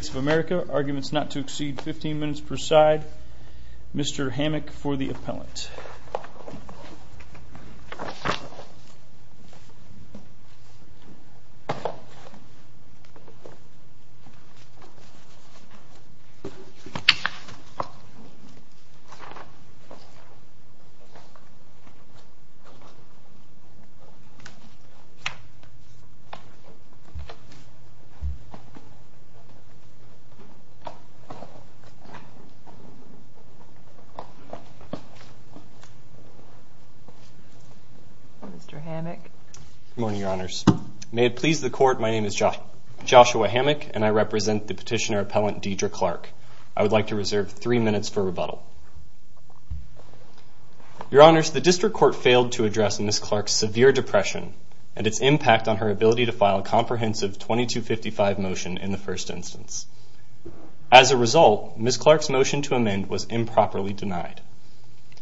of America, arguments not to exceed 15 minutes per side. Mr. Hammack for the appellant. Mr. Hammack. Good morning, Your Honors. May it please the Court, my name is Joshua Hammack, and I represent the petitioner appellant Deidre Clark. I would like to reserve three minutes for the petitioner to speak. Your Honors, the District Court failed to address Ms. Clark's severe depression and its impact on her ability to file a comprehensive 2255 motion in the first instance. As a result, Ms. Clark's motion to amend was improperly denied.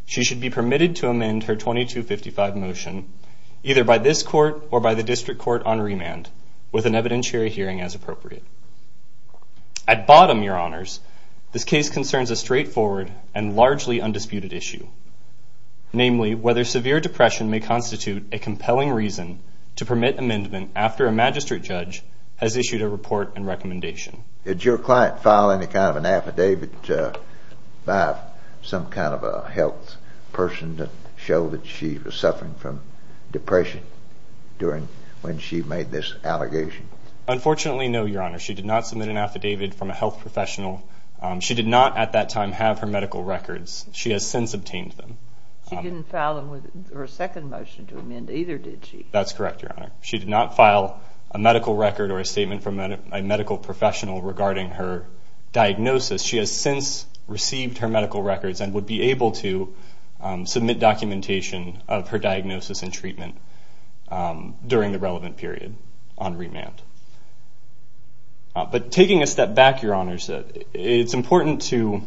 She should be permitted to amend her 2255 motion either by this Court or by the District Court on remand with an evidentiary hearing as appropriate. At bottom, Your Honors, this case concerns a straightforward and largely undisputed issue, namely whether severe depression may constitute a compelling reason to permit amendment after a magistrate judge has issued a report and recommendation. Did your client file any kind of an affidavit by some kind of a health person to show that she was suffering from depression when she made this allegation? Unfortunately, no, Your Honors. She did not submit an affidavit from a health professional. She did not at that time have her medical records. She has since obtained them. She didn't file her second motion to amend either, did she? That's correct, Your Honor. She did not file a medical record or a statement from a medical professional regarding her diagnosis. She has since received her medical records and would be able to submit documentation of her diagnosis and treatment during the relevant period on remand. But taking a step back, Your Honors, it's important to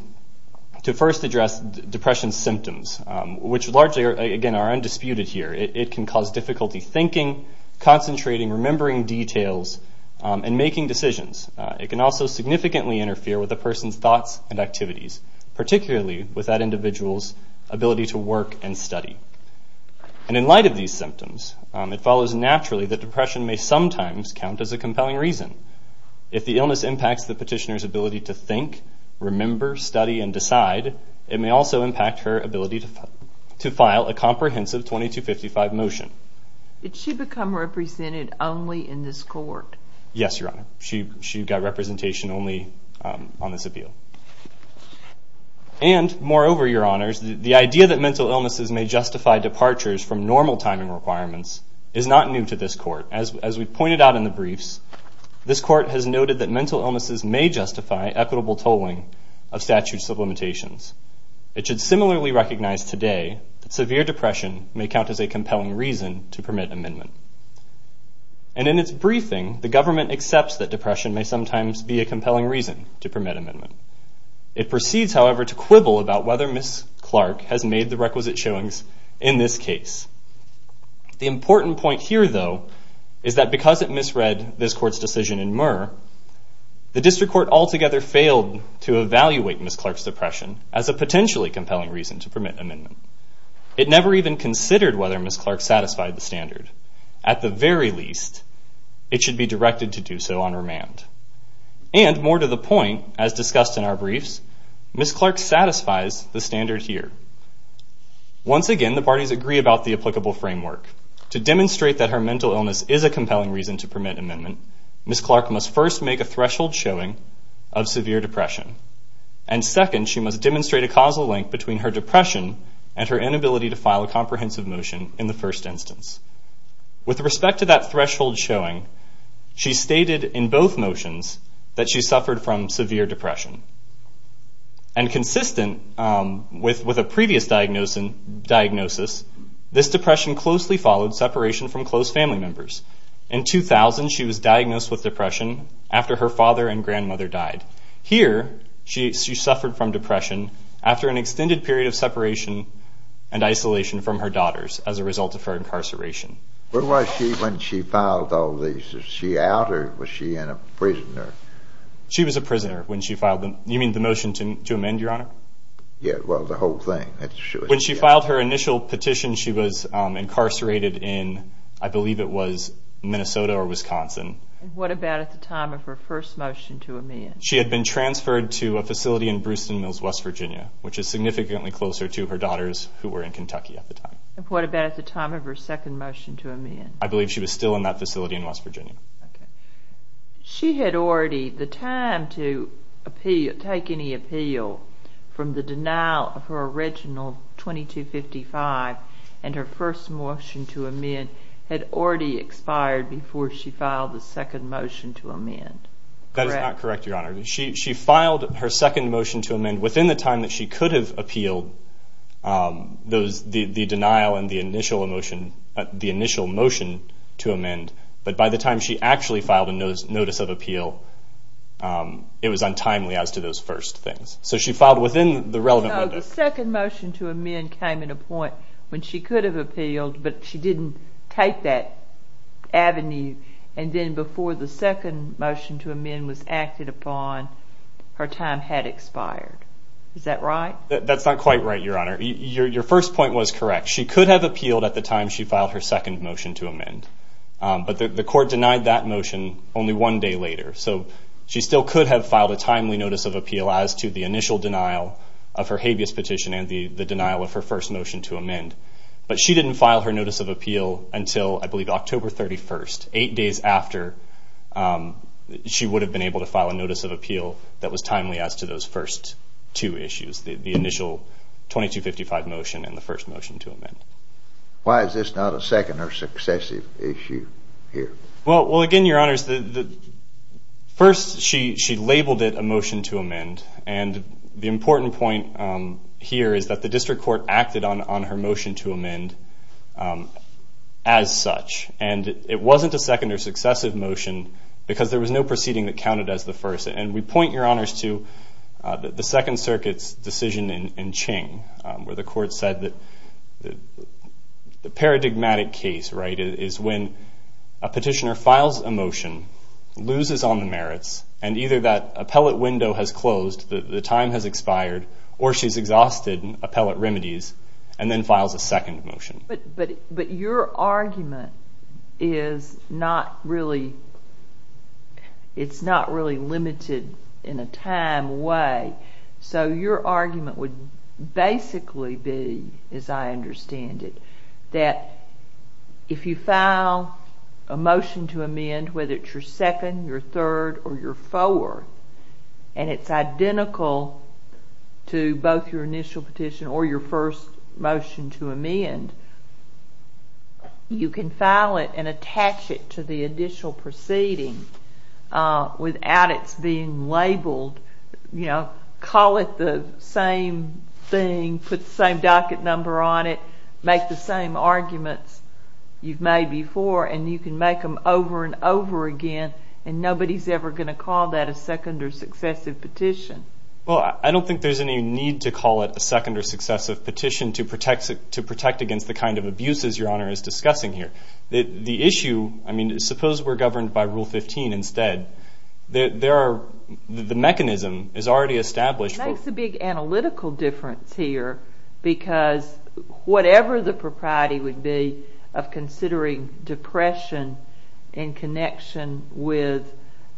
first address depression's symptoms, which largely, again, are undisputed here. It can cause difficulty thinking, concentrating, remembering details, and making decisions. It can also significantly interfere with a person's thoughts and activities, particularly with that individual's ability to work and study. And in light of these symptoms, it follows naturally that depression may sometimes count as a compelling reason. If the illness impacts the petitioner's ability to think, remember, study, and decide, it may also impact her ability to file a comprehensive 2255 motion. Did she become represented only in this court? Yes, Your Honor. She got representation only on this appeal. And, moreover, Your Honors, the idea that mental illnesses may justify departures from normal timing requirements is not new to this court. As we pointed out in the briefs, this court has noted that mental illnesses may justify equitable tolling of statutes of limitations. It should similarly recognize today that severe depression may count as a compelling reason to permit amendment. And in its briefing, the government accepts that depression may sometimes be a compelling reason to permit amendment. It proceeds, however, to quibble about whether Ms. Clark has made the requisite showings in this case. The important point here, though, is that because it misread this court's decision in Murr, the district court altogether failed to evaluate Ms. Clark's depression as a potentially compelling reason to permit amendment. It never even considered whether Ms. Clark satisfied the standard. At the very least, it should be directed to do so on remand. And, more to the point, as discussed in our briefs, Ms. Clark satisfies the standard here. Once again, the parties agree about the applicable framework. To demonstrate that her mental illness is a compelling reason to permit amendment, Ms. Clark must first make a threshold showing of severe depression. And second, she must demonstrate a causal link between her depression and her inability to file a comprehensive motion in the first instance. With respect to that threshold showing, she stated in both motions that she suffered from severe depression. And consistent with a previous diagnosis, this depression closely followed separation from close family members. In 2000, she was diagnosed with depression after her father and grandmother died. Here, she suffered from depression after an extended period of separation and isolation from her daughters as a result of her incarceration. Where was she when she filed all these? Was she out or was she in a prison? She was a prisoner when she filed them. You mean the motion to amend, Your Honor? Yeah, well, the whole thing. When she filed her initial petition, she was incarcerated in, I believe it was Minnesota or Wisconsin. And what about at the time of her first motion to amend? She had been transferred to a facility in Brewston Mills, West Virginia, which is significantly closer to her daughters who were in Kentucky at the time. And what about at the time of her second motion to amend? I believe she was still in that facility in West Virginia. She had already, the time to take any appeal from the denial of her original 2255 and her first motion to amend had already expired before she filed the second motion to amend. That is not correct, Your Honor. She filed her second motion to amend within the time that she could have appealed the denial and the initial motion to amend. But by the time she actually filed a notice of appeal, it was untimely as to those first things. So she filed within the relevant window. No, the second motion to amend came at a point when she could have appealed, but she didn't take that avenue. And then before the second motion to amend was acted upon, her time had expired. Is that right? That's not quite right, Your Honor. Your first point was correct. She could have appealed at the time she filed her second motion to amend, but the court denied that motion only one day later. So she still could have filed a timely notice of appeal as to the initial denial of her habeas petition and the denial of her first motion to amend. But she didn't file her notice of appeal until, I believe, October 31st, eight days after she would have been able to file a notice of appeal that was timely as to those first two issues, the initial 2255 motion and the first motion to amend. Why is this not a second or successive issue here? Well, again, Your Honors, first she labeled it a motion to amend. And the important point here is that the district court acted on her motion to amend as such. And it wasn't a second or successive motion because there was no proceeding that counted as the first. And we point, Your Honors, to the Second Circuit's decision in Ching where the court said that the paradigmatic case is when a petitioner files a motion, loses on the merits, and either that appellate window has closed, the time has expired, or she's exhausted appellate remedies and then files a second motion. But your argument is not really limited in a time way. So your argument would basically be, as I understand it, that if you file a motion to amend, whether it's your second, your third, or your fourth, and it's identical to both your initial petition or your first motion to amend, you can file it and attach it to the additional proceeding without its being labeled. You know, call it the same thing, put the same docket number on it, make the same arguments you've made before, and you can make them over and over again, and nobody's ever going to call that a second or successive petition. Well, I don't think there's any need to call it a second or successive petition to protect against the kind of abuses Your Honor is discussing here. The issue, I mean, suppose we're governed by Rule 15 instead. The mechanism is already established. It makes a big analytical difference here because whatever the propriety would be of considering depression in connection with,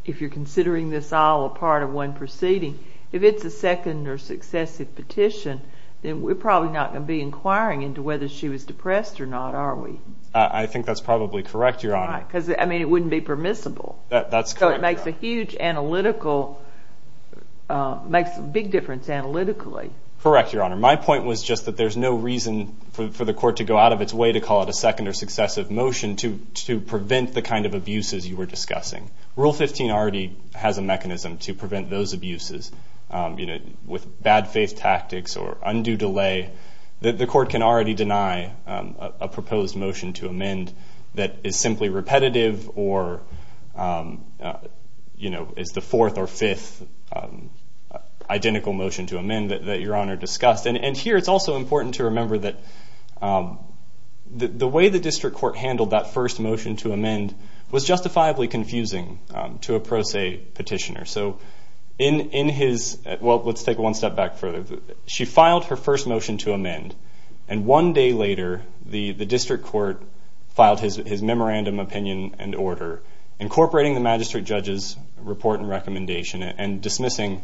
if you're considering this all a part of one proceeding, if it's a second or successive petition, then we're probably not going to be inquiring into whether she was depressed or not, are we? I think that's probably correct, Your Honor. Right, because, I mean, it wouldn't be permissible. That's correct, Your Honor. So it makes a huge analytical, makes a big difference analytically. Correct, Your Honor. My point was just that there's no reason for the court to go out of its way to call it a second or successive motion to prevent the kind of abuses you were discussing. Rule 15 already has a mechanism to prevent those abuses with bad faith tactics or undue delay. The court can already deny a proposed motion to amend that is simply repetitive or is the fourth or fifth identical motion to amend that Your Honor discussed. And here it's also important to remember that the way the district court handled that first motion to amend was justifiably confusing to a pro se petitioner. So in his, well, let's take one step back further. She filed her first motion to amend, and one day later the district court filed his memorandum opinion and order incorporating the magistrate judge's report and recommendation and dismissing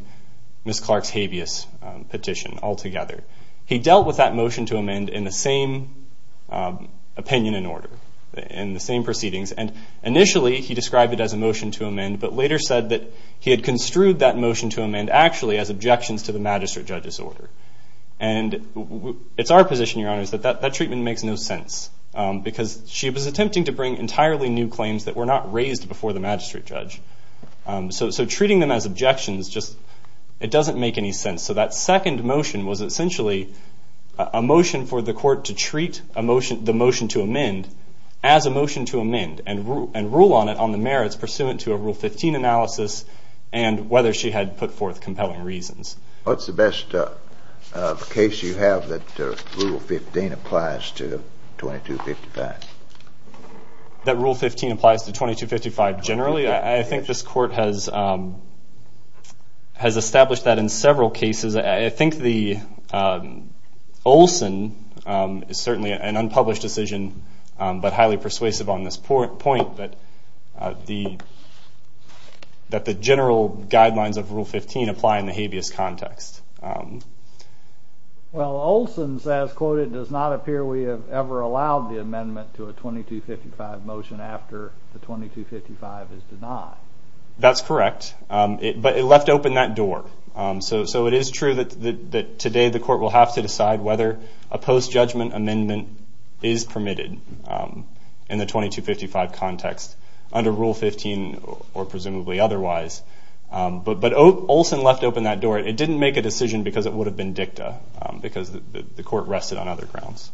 Ms. Clark's habeas petition altogether. He dealt with that motion to amend in the same opinion and order, in the same proceedings. And initially he described it as a motion to amend, but later said that he had construed that motion to amend actually as objections to the magistrate judge's order. And it's our position, Your Honor, that that treatment makes no sense because she was attempting to bring entirely new claims that were not raised before the magistrate judge. So treating them as objections just doesn't make any sense. So that second motion was essentially a motion for the court to treat the motion to amend as a motion to amend and rule on it on the merits pursuant to a Rule 15 analysis and whether she had put forth compelling reasons. What's the best case you have that Rule 15 applies to 2255? That Rule 15 applies to 2255 generally? I think this court has established that in several cases. I think the Olson is certainly an unpublished decision but highly persuasive on this point, that the general guidelines of Rule 15 apply in the habeas context. Well, Olson says, quote, it does not appear we have ever allowed the amendment to a 2255 motion after the 2255 is denied. That's correct, but it left open that door. So it is true that today the court will have to decide whether a post-judgment amendment is permitted in the 2255 context under Rule 15 or presumably otherwise. But Olson left open that door. It didn't make a decision because it would have been dicta because the court rested on other grounds.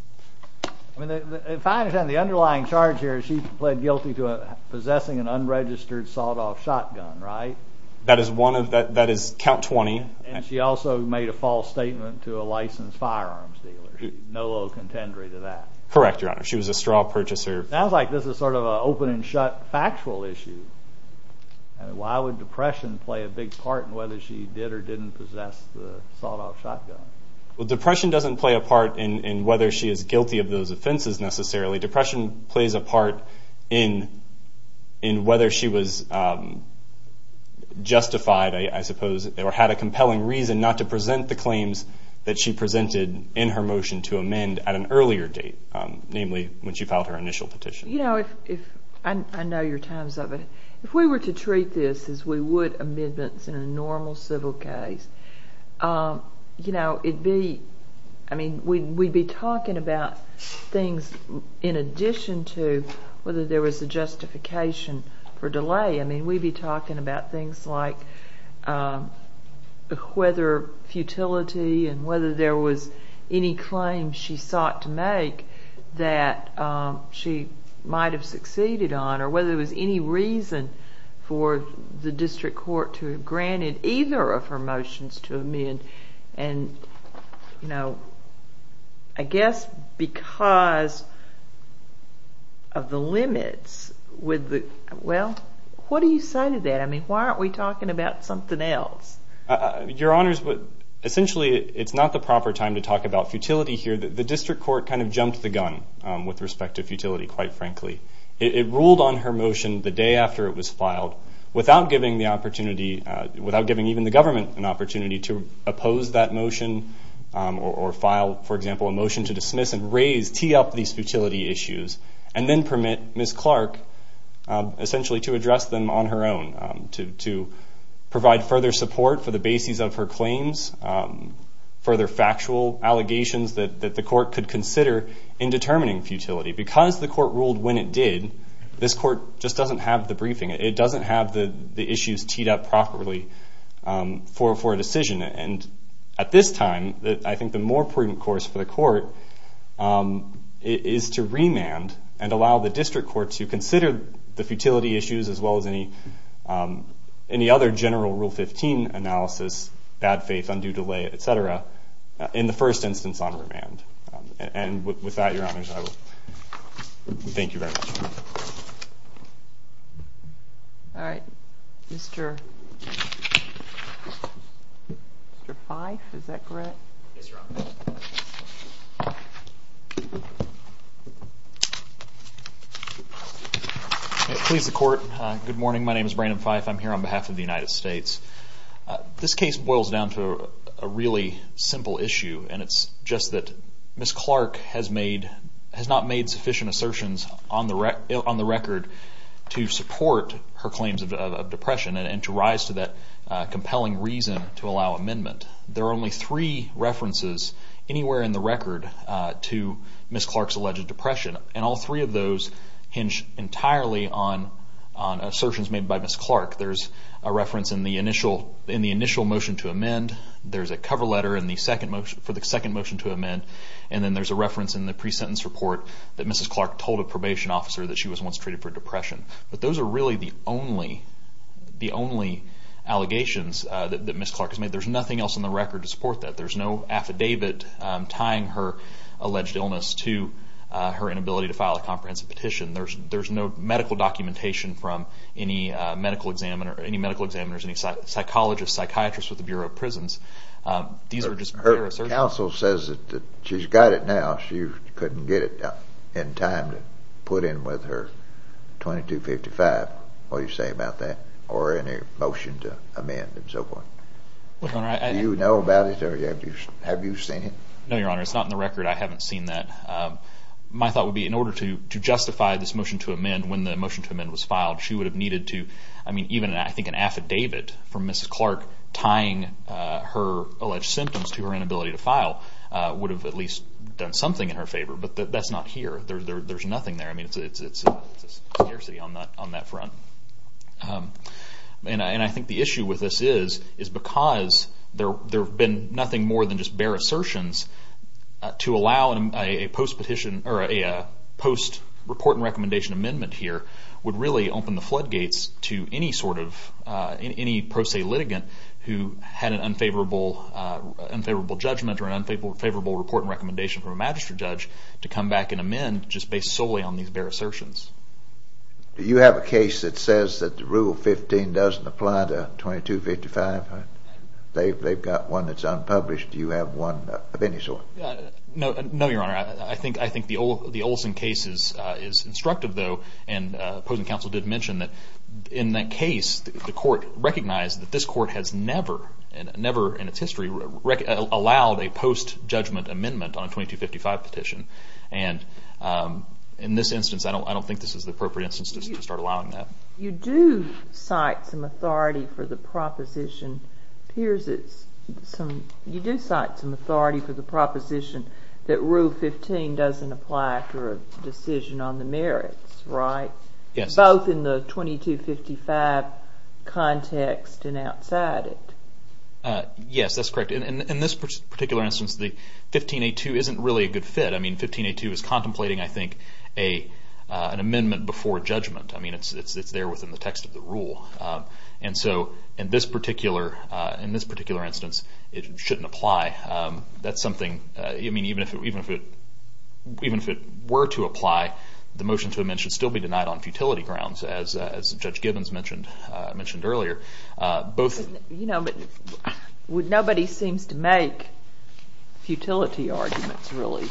If I understand the underlying charge here, she pled guilty to possessing an unregistered sawed-off shotgun, right? That is count 20. And she also made a false statement to a licensed firearms dealer. No low contendery to that. Correct, Your Honor. She was a straw purchaser. Sounds like this is sort of an open-and-shut factual issue. Why would depression play a big part in whether she did or didn't possess the sawed-off shotgun? Well, depression doesn't play a part in whether she is guilty of those offenses necessarily. Depression plays a part in whether she was justified, I suppose, or had a compelling reason not to present the claims that she presented in her motion to amend at an earlier date, namely when she filed her initial petition. You know, I know your times of it. If we were to treat this as we would amendments in a normal civil case, you know, we'd be talking about things in addition to whether there was a justification for delay. I mean, we'd be talking about things like whether futility and whether there was any claim she sought to make that she might have succeeded on or whether there was any reason for the district court to have granted either of her motions to amend. And, you know, I guess because of the limits with the... Well, what do you say to that? I mean, why aren't we talking about something else? Your Honors, essentially it's not the proper time to talk about futility here. The district court kind of jumped the gun with respect to futility, quite frankly. It ruled on her motion the day after it was filed without giving the opportunity, without giving even the government an opportunity to oppose that motion or file, for example, a motion to dismiss and raise, tee up these futility issues and then permit Ms. Clark essentially to address them on her own, to provide further support for the bases of her claims, further factual allegations that the court could consider in determining futility. Because the court ruled when it did, this court just doesn't have the briefing. It doesn't have the issues teed up properly for a decision. And at this time, I think the more prudent course for the court is to remand and allow the district court to consider the futility issues as well as any other general Rule 15 analysis, bad faith, undue delay, et cetera, in the first instance on remand. And with that, Your Honor, I thank you very much. All right. Mr. Fyfe, is that correct? Yes, Your Honor. Please, the court, good morning. My name is Brandon Fyfe. I'm here on behalf of the United States. This case boils down to a really simple issue, and it's just that Ms. Clark has not made sufficient assertions on the record to support her claims of depression and to rise to that compelling reason to allow amendment. There are only three references anywhere in the record to Ms. Clark's alleged depression, and all three of those hinge entirely on assertions made by Ms. Clark. There's a reference in the initial motion to amend. There's a cover letter for the second motion to amend, and then there's a reference in the pre-sentence report that Ms. Clark told a probation officer that she was once treated for depression. But those are really the only allegations that Ms. Clark has made. There's nothing else in the record to support that. There's no affidavit tying her alleged illness to her inability to file a comprehensive petition. There's no medical documentation from any medical examiners, any psychologists, psychiatrists with the Bureau of Prisons. These are just her assertions. Her counsel says that she's got it now. She couldn't get it in time to put in with her 2255. What do you say about that or any motion to amend and so forth? Do you know about it? Have you seen it? No, Your Honor. It's not in the record. I haven't seen that. My thought would be in order to justify this motion to amend when the motion to amend was filed, she would have needed to, I mean, even I think an affidavit from Ms. Clark tying her alleged symptoms to her inability to file would have at least done something in her favor. But that's not here. There's nothing there. I mean, it's a scarcity on that front. And I think the issue with this is because there have been nothing more than just bare assertions to allow a post-report and recommendation amendment here would really open the floodgates to any sort of, any pro se litigant who had an unfavorable judgment or an unfavorable report and recommendation from a magistrate judge to come back and amend just based solely on these bare assertions. Do you have a case that says that the Rule 15 doesn't apply to 2255? They've got one that's unpublished. Do you have one of any sort? No, Your Honor. I think the Olson case is instructive, though. And opposing counsel did mention that in that case the court recognized that this court has never, never in its history allowed a post-judgment amendment on a 2255 petition. And in this instance, I don't think this is the appropriate instance to start allowing that. You do cite some authority for the proposition that Rule 15 doesn't apply to a decision on the merits, right? Yes. Both in the 2255 context and outside it. Yes, that's correct. In this particular instance, the 15A2 isn't really a good fit. I mean, 15A2 is contemplating, I think, an amendment before judgment. I mean, it's there within the text of the Rule. And so in this particular instance, it shouldn't apply. That's something, I mean, even if it were to apply, the motion to amend should still be denied on futility grounds, as Judge Gibbons mentioned earlier. You know, but nobody seems to make futility arguments, really.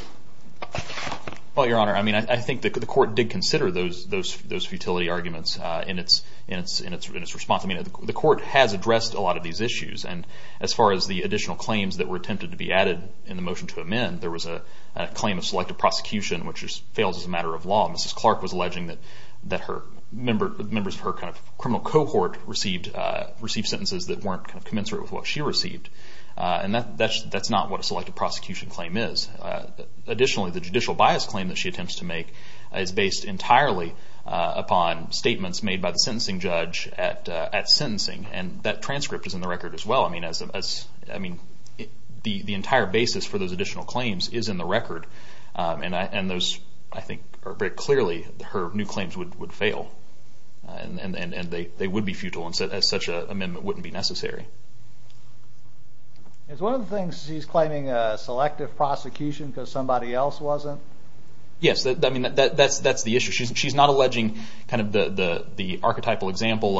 Well, Your Honor, I mean, I think the court did consider those futility arguments in its response. I mean, the court has addressed a lot of these issues. And as far as the additional claims that were attempted to be added in the motion to amend, there was a claim of selective prosecution, which fails as a matter of law. Mrs. Clark was alleging that members of her criminal cohort received sentences that weren't commensurate with what she received. And that's not what a selective prosecution claim is. Additionally, the judicial bias claim that she attempts to make is based entirely upon statements made by the sentencing judge at sentencing. And that transcript is in the record as well. I mean, the entire basis for those additional claims is in the record. And those, I think, are very clearly her new claims would fail. And they would be futile, and such an amendment wouldn't be necessary. Is one of the things she's claiming selective prosecution because somebody else wasn't? Yes, I mean, that's the issue. She's not alleging kind of the archetypal example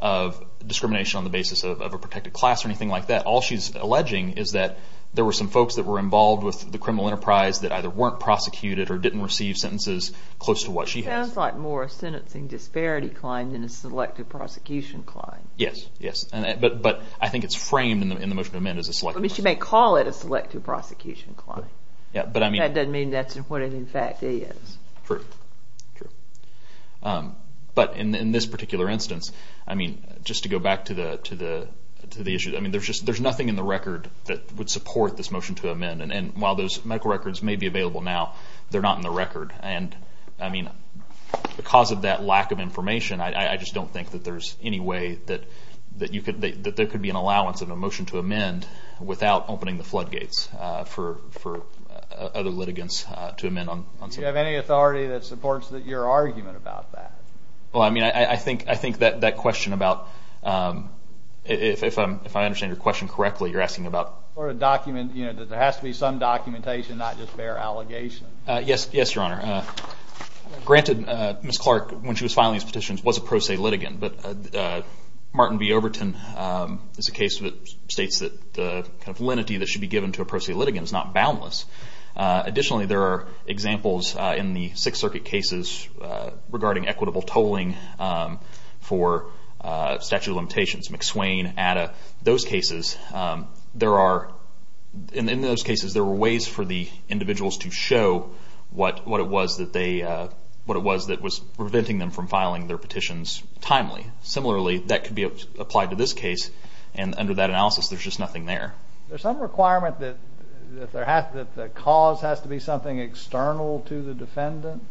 of discrimination on the basis of a protected class or anything like that. All she's alleging is that there were some folks that were involved with the criminal enterprise that either weren't prosecuted or didn't receive sentences close to what she has. It sounds like more a sentencing disparity claim than a selective prosecution claim. Yes, yes. But I think it's framed in the motion to amend as a selective prosecution. She may call it a selective prosecution claim. That doesn't mean that's what it in fact is. True, true. But in this particular instance, I mean, just to go back to the issue, I mean, there's nothing in the record that would support this motion to amend. And while those medical records may be available now, they're not in the record. And, I mean, because of that lack of information, I just don't think that there's any way that there could be an allowance in a motion to amend without opening the floodgates for other litigants to amend. Do you have any authority that supports your argument about that? Well, I mean, I think that question about, if I understand your question correctly, you're asking about? For a document, you know, that there has to be some documentation, not just bare allegations. Yes, yes, Your Honor. Granted, Ms. Clark, when she was filing these petitions, was a pro se litigant. But Martin B. Overton is a case that states that the kind of lenity that should be given to a pro se litigant is not boundless. Additionally, there are examples in the Sixth Circuit cases regarding equitable tolling for statute of limitations, McSwain, Adda, those cases. There are, in those cases, there were ways for the individuals to show what it was that they, what it was that was preventing them from filing their petitions timely. Similarly, that could be applied to this case. And under that analysis, there's just nothing there. Is there some requirement that the cause has to be something external to the defendant?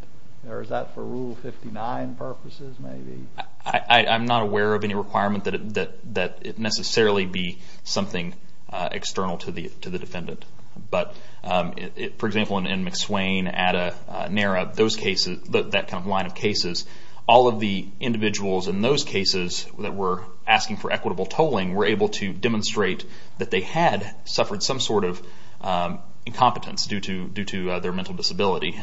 Or is that for Rule 59 purposes, maybe? I'm not aware of any requirement that it necessarily be something external to the defendant. But, for example, in McSwain, Adda, NARA, those cases, that kind of line of cases, all of the individuals in those cases that were asking for equitable tolling were able to demonstrate that they had suffered some sort of incompetence due to their mental disability.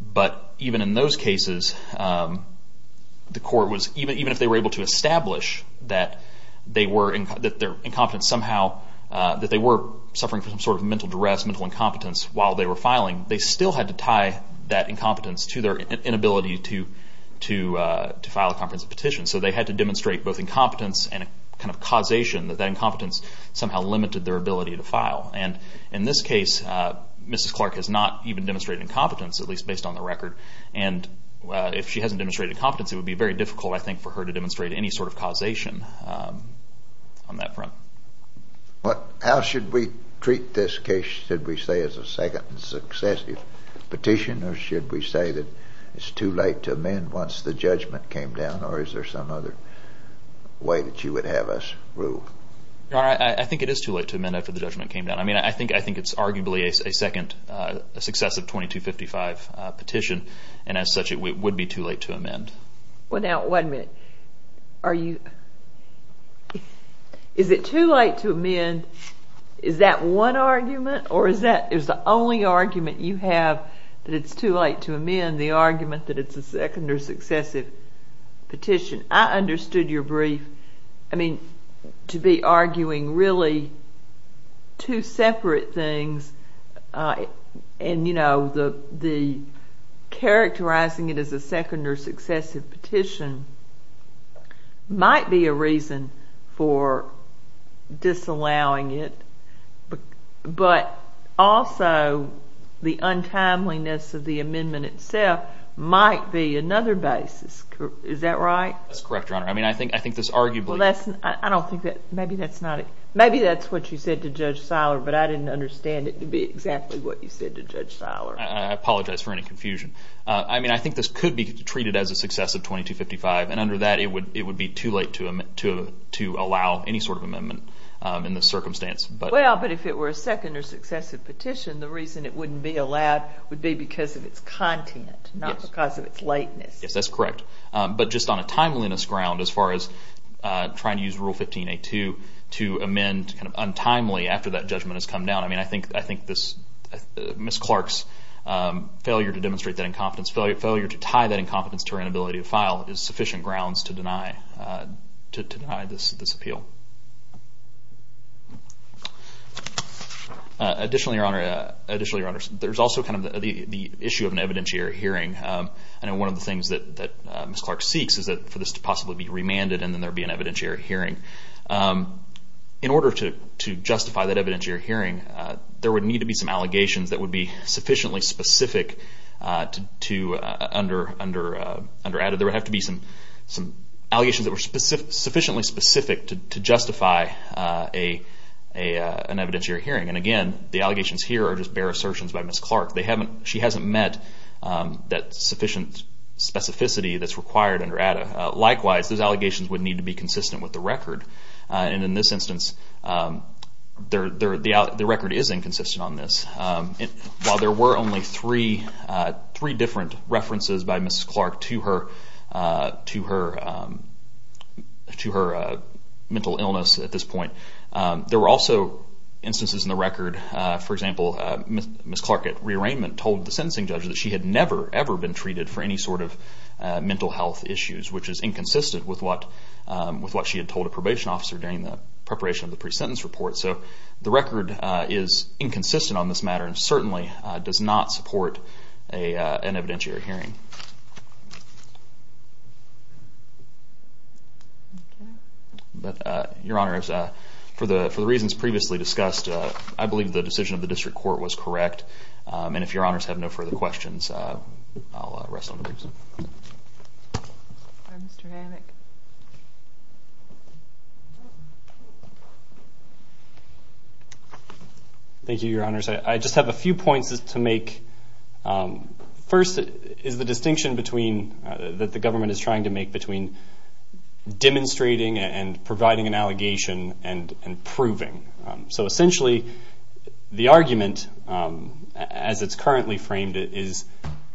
But even in those cases, the court was, even if they were able to establish that they were incompetent somehow, that they were suffering from some sort of mental duress, mental incompetence while they were filing, they still had to tie that incompetence to their inability to file a comprehensive petition. So they had to demonstrate both incompetence and a kind of causation that that incompetence somehow limited their ability to file. And in this case, Mrs. Clark has not even demonstrated incompetence, at least based on the record. And if she hasn't demonstrated competence, it would be very difficult, I think, for her to demonstrate any sort of causation on that front. How should we treat this case, should we say, as a second successive petition? Or should we say that it's too late to amend once the judgment came down? Or is there some other way that you would have us rule? I think it is too late to amend after the judgment came down. I mean, I think it's arguably a second successive 2255 petition, and as such it would be too late to amend. Well, now, wait a minute. Is it too late to amend, is that one argument? Or is the only argument you have that it's too late to amend the argument that it's a second or successive petition? I understood your brief. I mean, to be arguing really two separate things, and, you know, the characterizing it as a second or successive petition might be a reason for disallowing it, but also the untimeliness of the amendment itself might be another basis. Is that right? That's correct, Your Honor. I mean, I think this arguably – Well, that's – I don't think that – maybe that's not – maybe that's what you said to Judge Seiler, but I didn't understand it to be exactly what you said to Judge Seiler. I apologize for any confusion. I mean, I think this could be treated as a successive 2255, and under that it would be too late to allow any sort of amendment in this circumstance. Well, but if it were a second or successive petition, the reason it wouldn't be allowed would be because of its content, not because of its lateness. Yes, that's correct. But just on a timeliness ground, as far as trying to use Rule 15a2 to amend kind of untimely after that judgment has come down, I mean, I think Ms. Clark's failure to demonstrate that incompetence, failure to tie that incompetence to her inability to file, is sufficient grounds to deny this appeal. Additionally, Your Honor, there's also kind of the issue of an evidentiary hearing. I know one of the things that Ms. Clark seeks is for this to possibly be remanded and then there be an evidentiary hearing. In order to justify that evidentiary hearing, there would need to be some allegations that would be sufficiently specific to – under ADDA there would have to be some allegations that were sufficiently specific to justify an evidentiary hearing. And again, the allegations here are just bare assertions by Ms. Clark. She hasn't met that sufficient specificity that's required under ADDA. Likewise, those allegations would need to be consistent with the record. And in this instance, the record is inconsistent on this. While there were only three different references by Ms. Clark to her mental illness at this point, there were also instances in the record, for example, Ms. Clark at rearrangement told the sentencing judge that she had never, ever been treated for any sort of mental health issues, which is inconsistent with what she had told a probation officer during the preparation of the pre-sentence report. So the record is inconsistent on this matter and certainly does not support an evidentiary hearing. Your Honors, for the reasons previously discussed, I believe the decision of the district court was correct. And if Your Honors have no further questions, I'll rest on the briefs. Mr. Hammack. Thank you, Your Honors. I just have a few points to make. First is the distinction that the government is trying to make between demonstrating and providing an allegation and proving. So essentially, the argument, as it's currently framed, is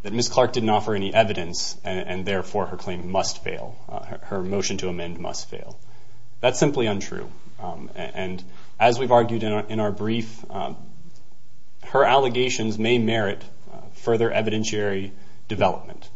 that Ms. Clark didn't offer any evidence and therefore her claim must fail, her motion to amend must fail. That's simply untrue. And as we've argued in our brief, her allegations may merit further evidentiary development.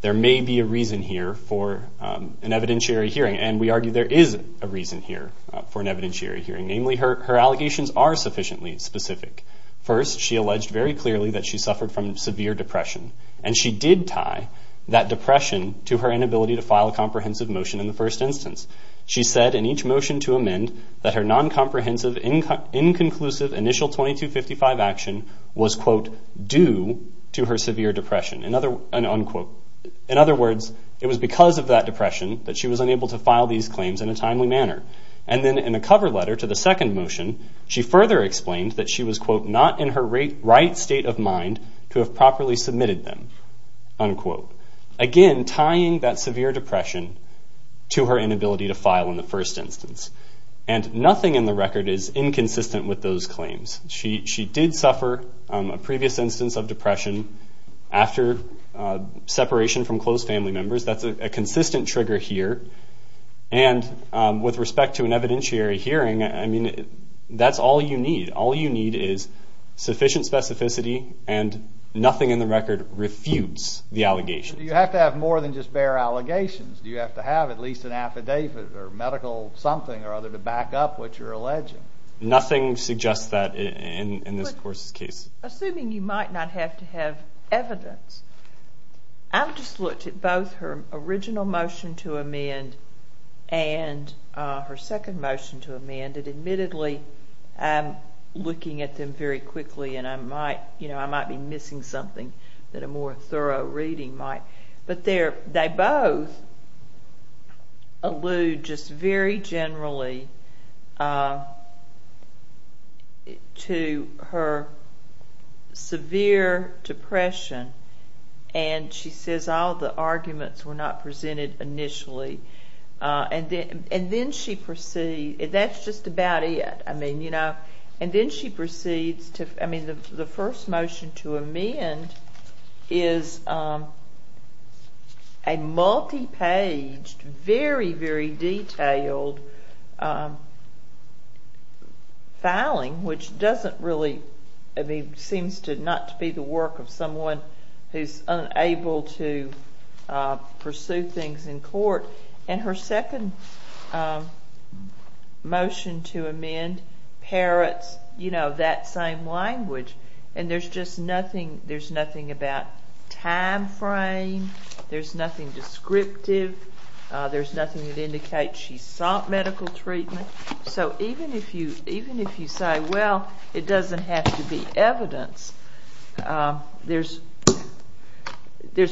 There may be a reason here for an evidentiary hearing, and we argue there is a reason here for an evidentiary hearing. Namely, her allegations are sufficiently specific. First, she alleged very clearly that she suffered from severe depression, and she did tie that depression to her inability to file a comprehensive motion in the first instance. She said in each motion to amend that her non-comprehensive, inconclusive initial 2255 action was, quote, due to her severe depression, unquote. In other words, it was because of that depression that she was unable to file these claims in a timely manner. And then in a cover letter to the second motion, she further explained that she was, quote, not in her right state of mind to have properly submitted them, unquote. Again, tying that severe depression to her inability to file in the first instance. And nothing in the record is inconsistent with those claims. She did suffer a previous instance of depression after separation from close family members. That's a consistent trigger here. And with respect to an evidentiary hearing, I mean, that's all you need. All you need is sufficient specificity, and nothing in the record refutes the allegations. Do you have to have more than just bare allegations? Do you have to have at least an affidavit or medical something or other to back up what you're alleging? Nothing suggests that in this court's case. Assuming you might not have to have evidence, I've just looked at both her original motion to amend and her second motion to amend, and admittedly I'm looking at them very quickly, and I might be missing something that a more thorough reading might. But they both allude just very generally to her severe depression, and she says all the arguments were not presented initially. And then she proceeds. That's just about it, I mean, you know. And then she proceeds to, I mean, the first motion to amend is a multi-paged, very, very detailed filing, which doesn't really, I mean, seems not to be the work of someone who's unable to pursue things in court. And her second motion to amend parrots, you know, that same language. And there's just nothing about time frame. There's nothing descriptive. There's nothing that indicates she sought medical treatment. So even if you say, well, it doesn't have to be evidence, there's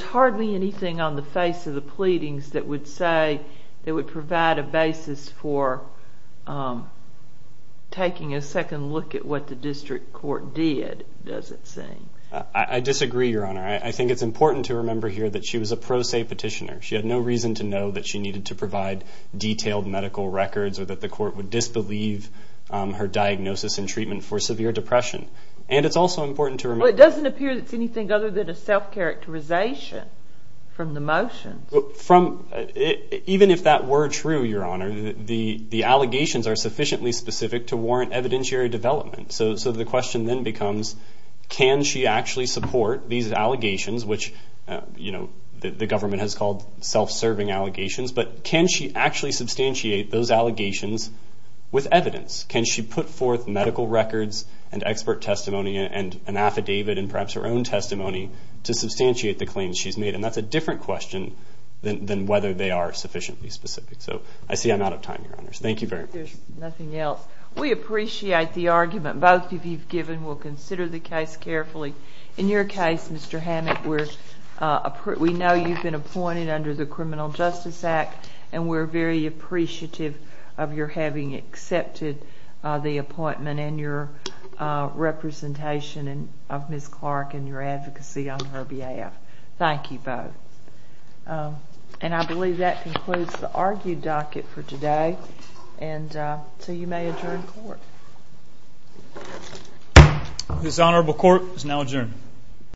hardly anything on the face of the pleadings that would say that would provide a basis for taking a second look at what the district court did, does it seem? I disagree, Your Honor. I think it's important to remember here that she was a pro se petitioner. She had no reason to know that she needed to provide detailed medical records or that the court would disbelieve her diagnosis and treatment for severe depression. And it's also important to remember. Well, it doesn't appear that it's anything other than a self-characterization from the motions. Even if that were true, Your Honor, the allegations are sufficiently specific to warrant evidentiary development. So the question then becomes, can she actually support these allegations, which, you know, the government has called self-serving allegations, but can she actually substantiate those allegations with evidence? Can she put forth medical records and expert testimony and an affidavit and perhaps her own testimony to substantiate the claims she's made? And that's a different question than whether they are sufficiently specific. So I see I'm out of time, Your Honors. Thank you very much. If there's nothing else, we appreciate the argument both of you have given. We'll consider the case carefully. In your case, Mr. Hammack, we know you've been appointed under the Criminal Justice Act, and we're very appreciative of your having accepted the appointment and your representation of Ms. Clark and your advocacy on her behalf. Thank you both. And I believe that concludes the argued docket for today. And so you may adjourn court. This honorable court is now adjourned.